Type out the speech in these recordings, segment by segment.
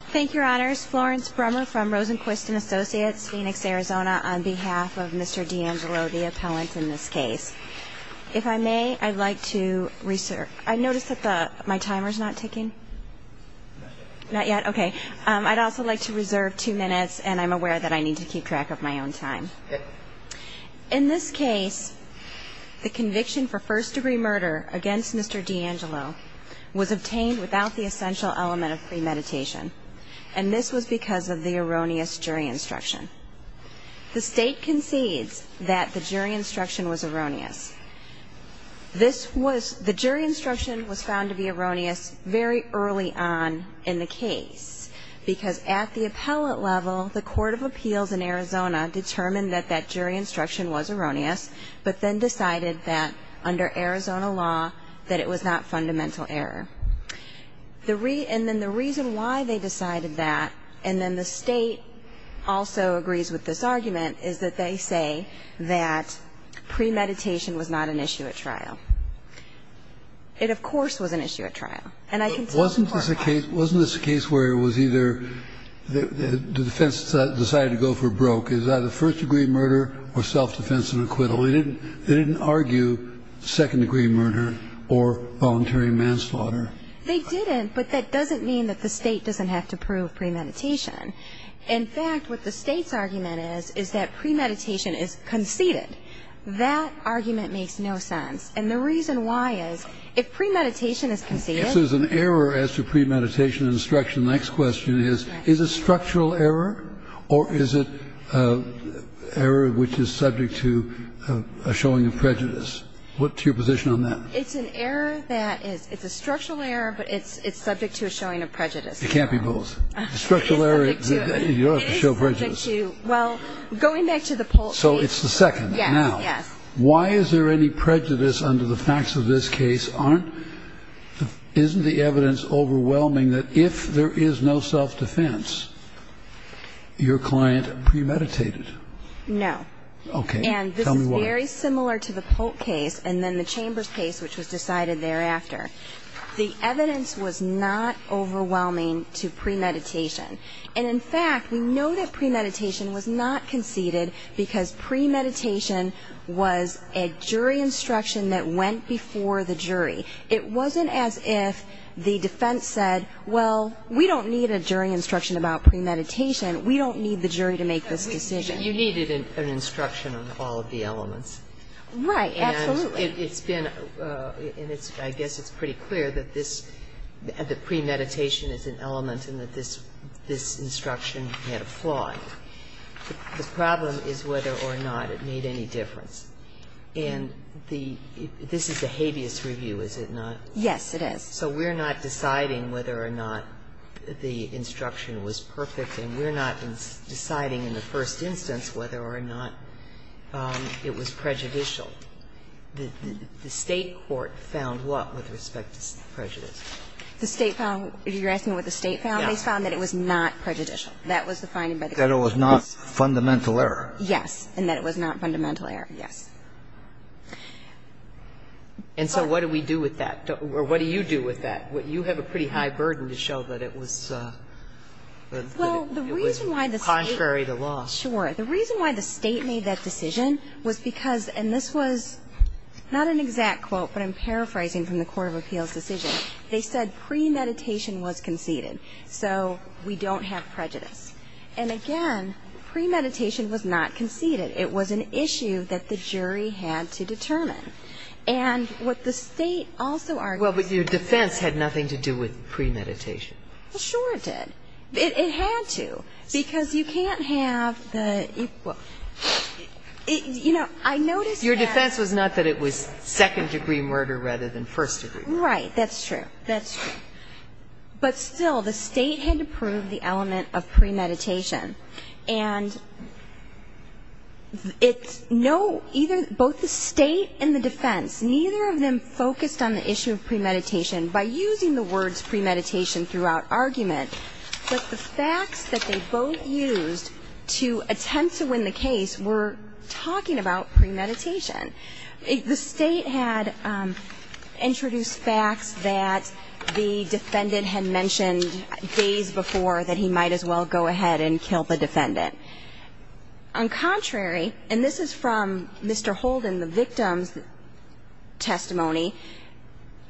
Thank you, Your Honors. Florence Brummer from Rosenquist & Associates, Phoenix, Arizona, on behalf of Mr. D'Angelo, the appellant in this case. If I may, I'd like to reserve... I notice that my timer's not ticking. Not yet? Okay. I'd also like to reserve two minutes, and I'm aware that I need to keep track of my own time. In this case, the conviction for first-degree murder against Mr. D'Angelo was obtained without the essential element of premeditation, and this was because of the erroneous jury instruction. The State concedes that the jury instruction was erroneous. The jury instruction was found to be erroneous very early on in the case, because at the appellate level, the Court of Appeals in Arizona determined that that jury instruction was erroneous, but then decided that, under Arizona law, that it was not fundamental error. And then the reason why they decided that, and then the State also agrees with this argument, is that they say that premeditation was not an issue at trial. It, of course, was an issue at trial. Wasn't this a case where it was either the defense decided to go for broke? It was either first-degree murder or self-defense and acquittal. They didn't argue second-degree murder or voluntary manslaughter. They didn't, but that doesn't mean that the State doesn't have to prove premeditation. In fact, what the State's argument is is that premeditation is conceded. That argument makes no sense, and the reason why is if premeditation is conceded... If there's an error as to premeditation and instruction, the next question is, is it structural error, or is it error which is subject to a showing of prejudice? What's your position on that? It's an error that is, it's a structural error, but it's subject to a showing of prejudice. It can't be both. It's subject to... Structural error, you don't have to show prejudice. It is subject to, well, going back to the poll... So it's the second. Yes, yes. Why is there any prejudice under the facts of this case? Isn't the evidence overwhelming that if there is no self-defense, your client premeditated? No. Okay. Tell me why. And this is very similar to the Polk case and then the Chambers case, which was decided thereafter. The evidence was not overwhelming to premeditation. And, in fact, we know that premeditation was not conceded because premeditation was a jury instruction that went before the jury. It wasn't as if the defense said, well, we don't need a jury instruction about premeditation. We don't need the jury to make this decision. You needed an instruction on all of the elements. Right. Absolutely. Well, it's been, and I guess it's pretty clear that premeditation is an element and that this instruction had a flaw. The problem is whether or not it made any difference. And this is a habeas review, is it not? Yes, it is. So we're not deciding whether or not the instruction was perfect, and we're not deciding in the first instance whether or not it was prejudicial. The State court found what with respect to prejudicial? The State found, if you're asking what the State found, they found that it was not prejudicial. That was the finding by the State. That it was not fundamental error. Yes, and that it was not fundamental error, yes. And so what do we do with that? Or what do you do with that? You have a pretty high burden to show that it was contrary to law. Sure. The reason why the State made that decision was because, and this was not an exact quote, but I'm paraphrasing from the Court of Appeals decision. They said premeditation was conceded, so we don't have prejudice. And, again, premeditation was not conceded. It was an issue that the jury had to determine. And what the State also argued. Well, but your defense had nothing to do with premeditation. Well, sure it did. It had to, because you can't have the, you know, I noticed that. Your defense was not that it was second-degree murder rather than first-degree murder. Right, that's true. That's true. But, still, the State had to prove the element of premeditation. And it's no, either, both the State and the defense, neither of them focused on the issue of premeditation. By using the words premeditation throughout argument, but the facts that they both used to attempt to win the case were talking about premeditation. The State had introduced facts that the defendant had mentioned days before that he might as well go ahead and kill the defendant. On contrary, and this is from Mr. Holden, the victim's testimony,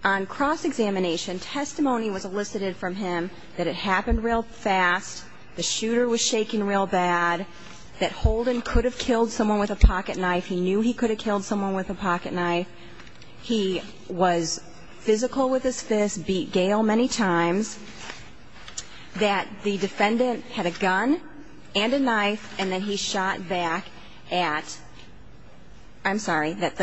on cross-examination, testimony was elicited from him that it happened real fast, the shooter was shaking real bad, that Holden could have killed someone with a pocket knife, he knew he could have killed someone with a pocket knife, he was physical with his fist, beat Gail many times, that the defendant had a gun and a knife, and then he shot back at, I'm sorry, that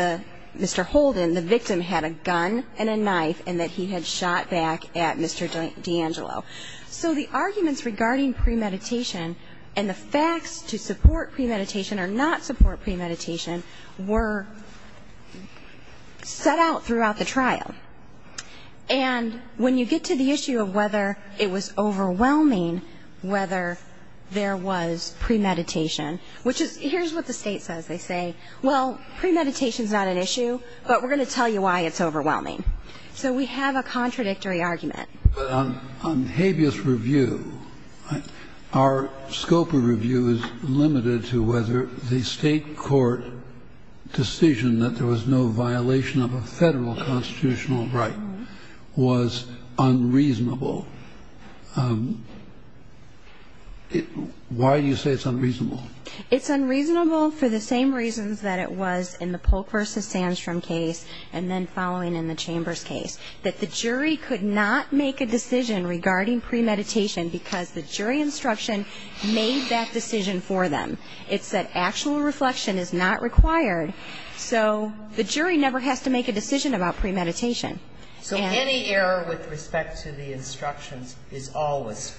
Mr. Holden, the victim, had a gun and a knife, and that he had shot back at Mr. D'Angelo. So the arguments regarding premeditation and the facts to support premeditation or not support premeditation were set out throughout the trial. And when you get to the issue of whether it was overwhelming, whether there was premeditation, which is, here's what the State says. They say, well, premeditation's not an issue, but we're going to tell you why it's overwhelming. So we have a contradictory argument. But on habeas review, our scope of review is limited to whether the State court decision that there was no violation of a Federal constitutional right was unreasonable. Why do you say it's unreasonable? It's unreasonable for the same reasons that it was in the Polk v. Sandstrom case and then following in the Chambers case, that the jury could not make a decision regarding premeditation because the jury instruction made that decision for them. It said actual reflection is not required, so the jury never has to make a decision about premeditation. So any error with respect to the instructions is always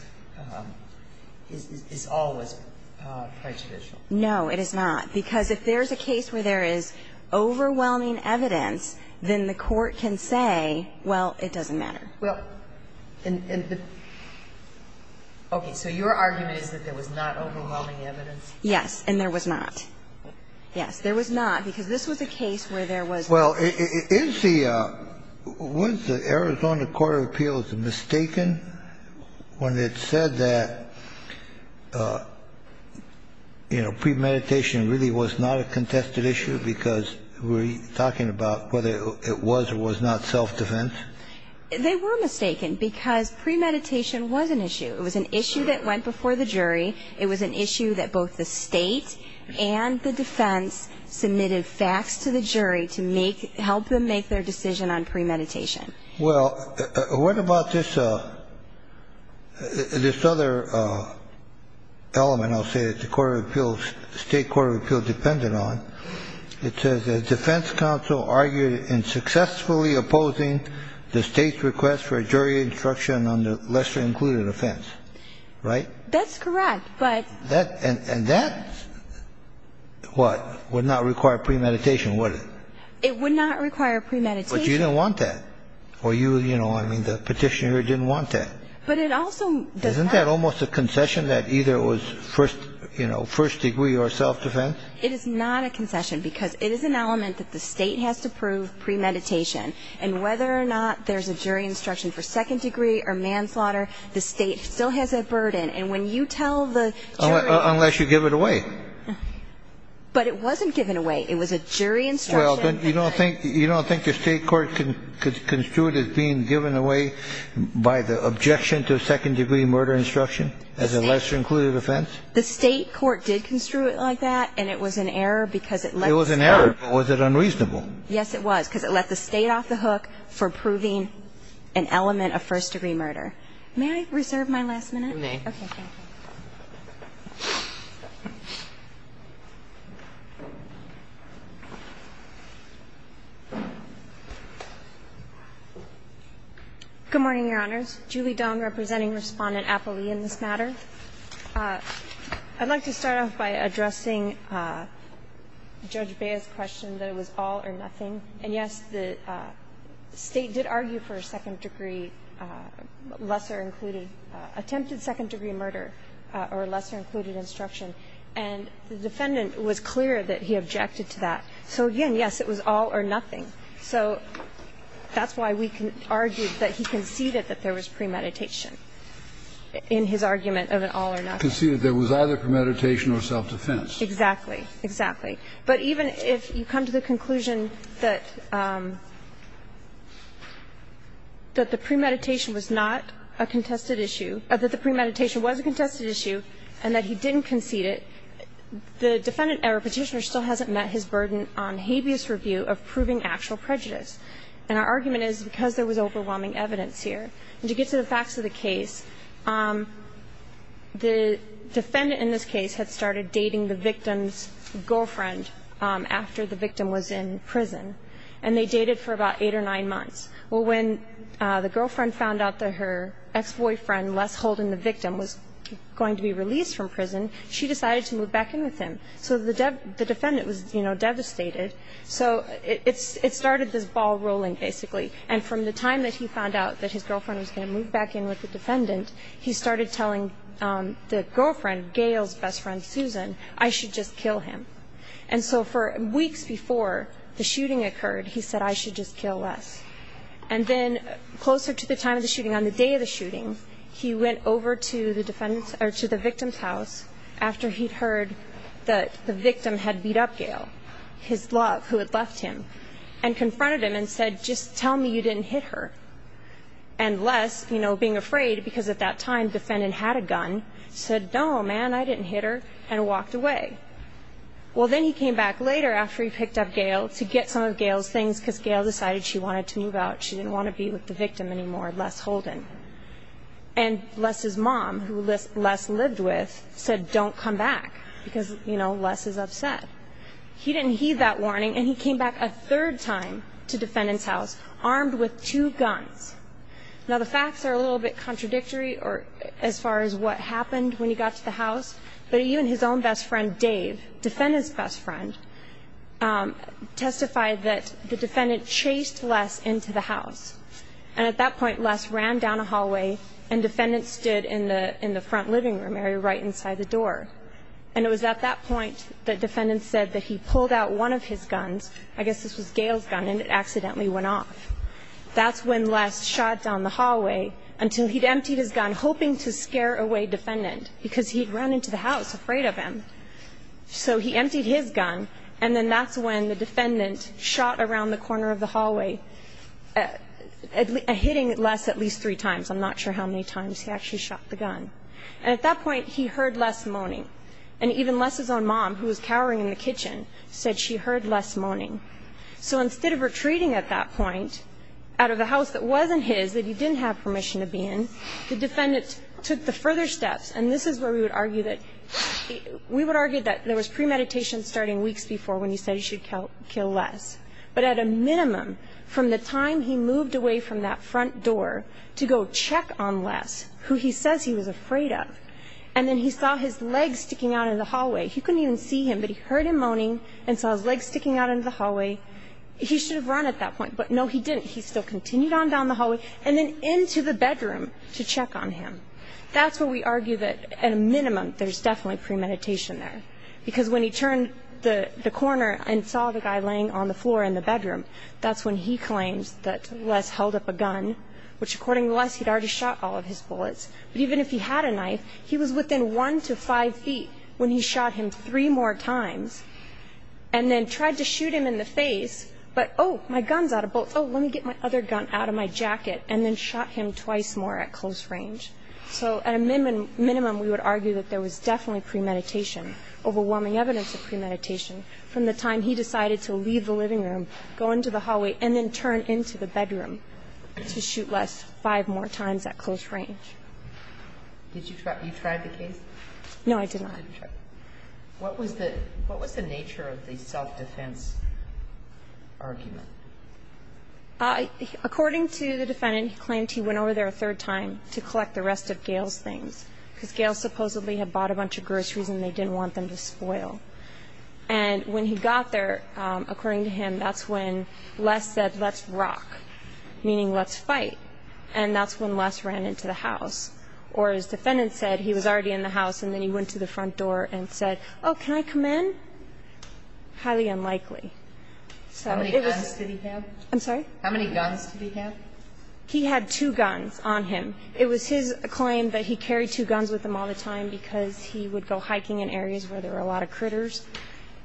prejudicial? No, it is not. Because if there's a case where there is overwhelming evidence, then the court can say, well, it doesn't matter. Well, and the – okay. So your argument is that there was not overwhelming evidence? Yes, and there was not. Well, is the – was the Arizona Court of Appeals mistaken when it said that, you know, premeditation really was not a contested issue because we're talking about whether it was or was not self-defense? They were mistaken because premeditation was an issue. It was an issue that both the state and the defense submitted facts to the jury to make – help them make their decision on premeditation. Well, what about this – this other element, I'll say, that the Court of Appeals – State Court of Appeals depended on? It says the defense counsel argued in successfully opposing the state's request for a jury instruction on the lesser-included offense, right? That's correct, but – That – and that what? Would not require premeditation, would it? It would not require premeditation. But you don't want that. Or you, you know, I mean, the Petitioner didn't want that. But it also does not – Isn't that almost a concession that either it was first – you know, first degree or self-defense? It is not a concession because it is an element that the state has to prove premeditation. And whether or not there's a jury instruction for second degree or manslaughter, the state still has that burden. And when you tell the jury – Unless you give it away. But it wasn't given away. It was a jury instruction. Well, you don't think – you don't think the state court construed it as being given away by the objection to a second degree murder instruction as a lesser-included offense? The state court did construe it like that, and it was an error because it let the state – It was an error, but was it unreasonable? Yes, it was, because it let the state off the hook for proving an element of first degree murder. May I reserve my last minute? You may. Okay. Thank you. Good morning, Your Honors. Julie Dung, representing Respondent Apley in this matter. I'd like to start off by addressing Judge Bea's question that it was all or nothing. And, yes, the state did argue for a second degree, lesser-included – attempted second degree murder or lesser-included instruction. And the defendant was clear that he objected to that. So, again, yes, it was all or nothing. So that's why we argued that he conceded that there was premeditation in his argument of an all or nothing. Conceded there was either premeditation or self-defense. Exactly. Exactly. But even if you come to the conclusion that the premeditation was not a contested issue – that the premeditation was a contested issue and that he didn't concede it, the defendant or Petitioner still hasn't met his burden on habeas review of proving actual prejudice. And our argument is because there was overwhelming evidence here. And to get to the facts of the case, the defendant in this case had started dating the victim's girlfriend after the victim was in prison. And they dated for about eight or nine months. Well, when the girlfriend found out that her ex-boyfriend, Les Holden, the victim, was going to be released from prison, she decided to move back in with him. So the defendant was, you know, devastated. So it started this ball rolling, basically. And from the time that he found out that his girlfriend was going to move back in with the defendant, he started telling the girlfriend, Gail's best friend Susan, I should just kill him. And so for weeks before the shooting occurred, he said, I should just kill Les. And then closer to the time of the shooting, on the day of the shooting, he went over to the victim's house after he'd heard that the victim had beat up Gail, his love, who had left him, and confronted him and said, just tell me you didn't hit her. And Les, you know, being afraid because at that time the defendant had a gun, said, no, man, I didn't hit her, and walked away. Well, then he came back later after he picked up Gail to get some of Gail's things because Gail decided she wanted to move out. She didn't want to be with the victim anymore, Les Holden. And Les's mom, who Les lived with, said don't come back because, you know, Les is upset. He didn't heed that warning, and he came back a third time to defendant's house armed with two guns. Now, the facts are a little bit contradictory as far as what happened when he got to the house, but even his own best friend, Dave, defendant's best friend, testified that the defendant chased Les into the house. And at that point, Les ran down a hallway, and defendant stood in the front living room area right inside the door. And it was at that point that defendant said that he pulled out one of his guns, I guess this was Gail's gun, and it accidentally went off. That's when Les shot down the hallway until he'd emptied his gun, hoping to scare away defendant because he'd run into the house afraid of him. So he emptied his gun, and then that's when the defendant shot around the corner of the hallway, hitting Les at least three times. I'm not sure how many times he actually shot the gun. And at that point, he heard Les moaning. And even Les's own mom, who was cowering in the kitchen, said she heard Les moaning. So instead of retreating at that point out of the house that wasn't his, that he didn't have permission to be in, the defendant took the further steps. And this is where we would argue that there was premeditation starting weeks before when he said he should kill Les. But at a minimum, from the time he moved away from that front door to go check on Les, who he says he was afraid of, and then he saw his leg sticking out in the hallway, he couldn't even see him, but he heard him moaning and saw his leg sticking out in the hallway. He should have run at that point. But, no, he didn't. He still continued on down the hallway and then into the bedroom to check on him. That's where we argue that, at a minimum, there's definitely premeditation there. Because when he turned the corner and saw the guy laying on the floor in the bedroom, that's when he claims that Les held up a gun, which, according to Les, he'd already shot all of his bullets. But even if he had a knife, he was within one to five feet when he shot him three more times and then tried to shoot him in the face, but, oh, my gun's out of bullets. Oh, let me get my other gun out of my jacket, and then shot him twice more at close range. So, at a minimum, we would argue that there was definitely premeditation, overwhelming evidence of premeditation from the time he decided to leave the living room, and then turn into the bedroom to shoot Les five more times at close range. Did you try? You tried the case? No, I did not. What was the nature of the self-defense argument? According to the defendant, he claimed he went over there a third time to collect the rest of Gail's things, because Gail supposedly had bought a bunch of groceries and they didn't want them to spoil. And when he got there, according to him, that's when Les said, let's rock, meaning let's fight, and that's when Les ran into the house. Or as the defendant said, he was already in the house, and then he went to the front door and said, oh, can I come in? Highly unlikely. How many guns did he have? I'm sorry? How many guns did he have? He had two guns on him. It was his claim that he carried two guns with him all the time because he would go hiking in areas where there were a lot of critters,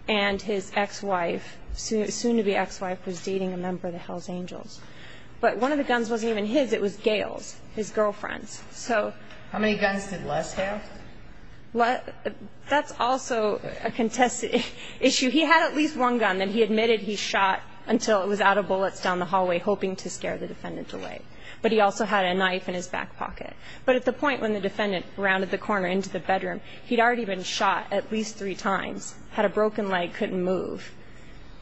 and his ex-wife, soon-to-be ex-wife, was dating a member of the Hells Angels. But one of the guns wasn't even his. It was Gail's, his girlfriend's. How many guns did Les have? That's also a contested issue. He had at least one gun that he admitted he shot until it was out of bullets down the hallway, hoping to scare the defendant away. But he also had a knife in his back pocket. But at the point when the defendant rounded the corner into the bedroom, he'd already been shot at least three times, had a broken leg, couldn't move.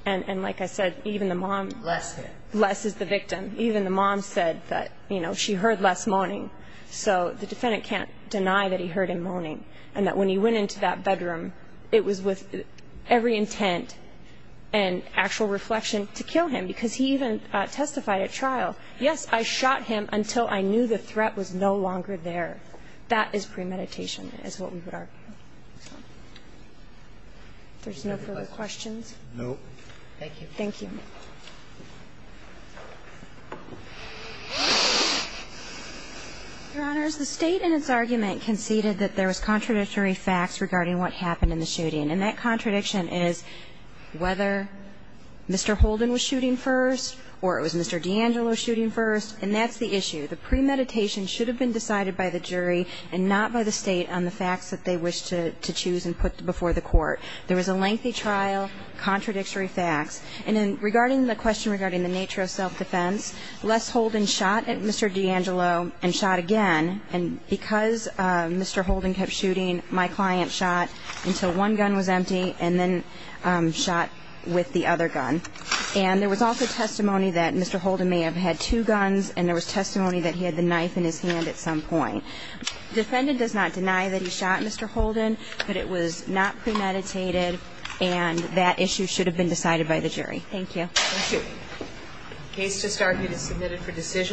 And like I said, even the mom. Les. Les is the victim. Even the mom said that, you know, she heard Les moaning. So the defendant can't deny that he heard him moaning and that when he went into that bedroom it was with every intent and actual reflection to kill him because he even testified at trial, yes, I shot him until I knew the threat was no longer there. That is premeditation is what we would argue. If there's no further questions. No. Thank you. Thank you. Your Honors, the State in its argument conceded that there was contradictory facts regarding what happened in the shooting. And that contradiction is whether Mr. Holden was shooting first or it was Mr. D'Angelo shooting first. And that's the issue. The premeditation should have been decided by the jury and not by the State on the facts that they wish to choose and put before the court. There was a lengthy trial, contradictory facts. And regarding the question regarding the nature of self-defense, Les Holden shot at Mr. D'Angelo and shot again. And because Mr. Holden kept shooting, my client shot until one gun was empty and then shot with the other gun. And there was also testimony that Mr. Holden may have had two guns and there was testimony that he had the knife in his hand at some point. Defendant does not deny that he shot Mr. Holden, but it was not premeditated and that issue should have been decided by the jury. Thank you. Thank you. Case to start is submitted for decision.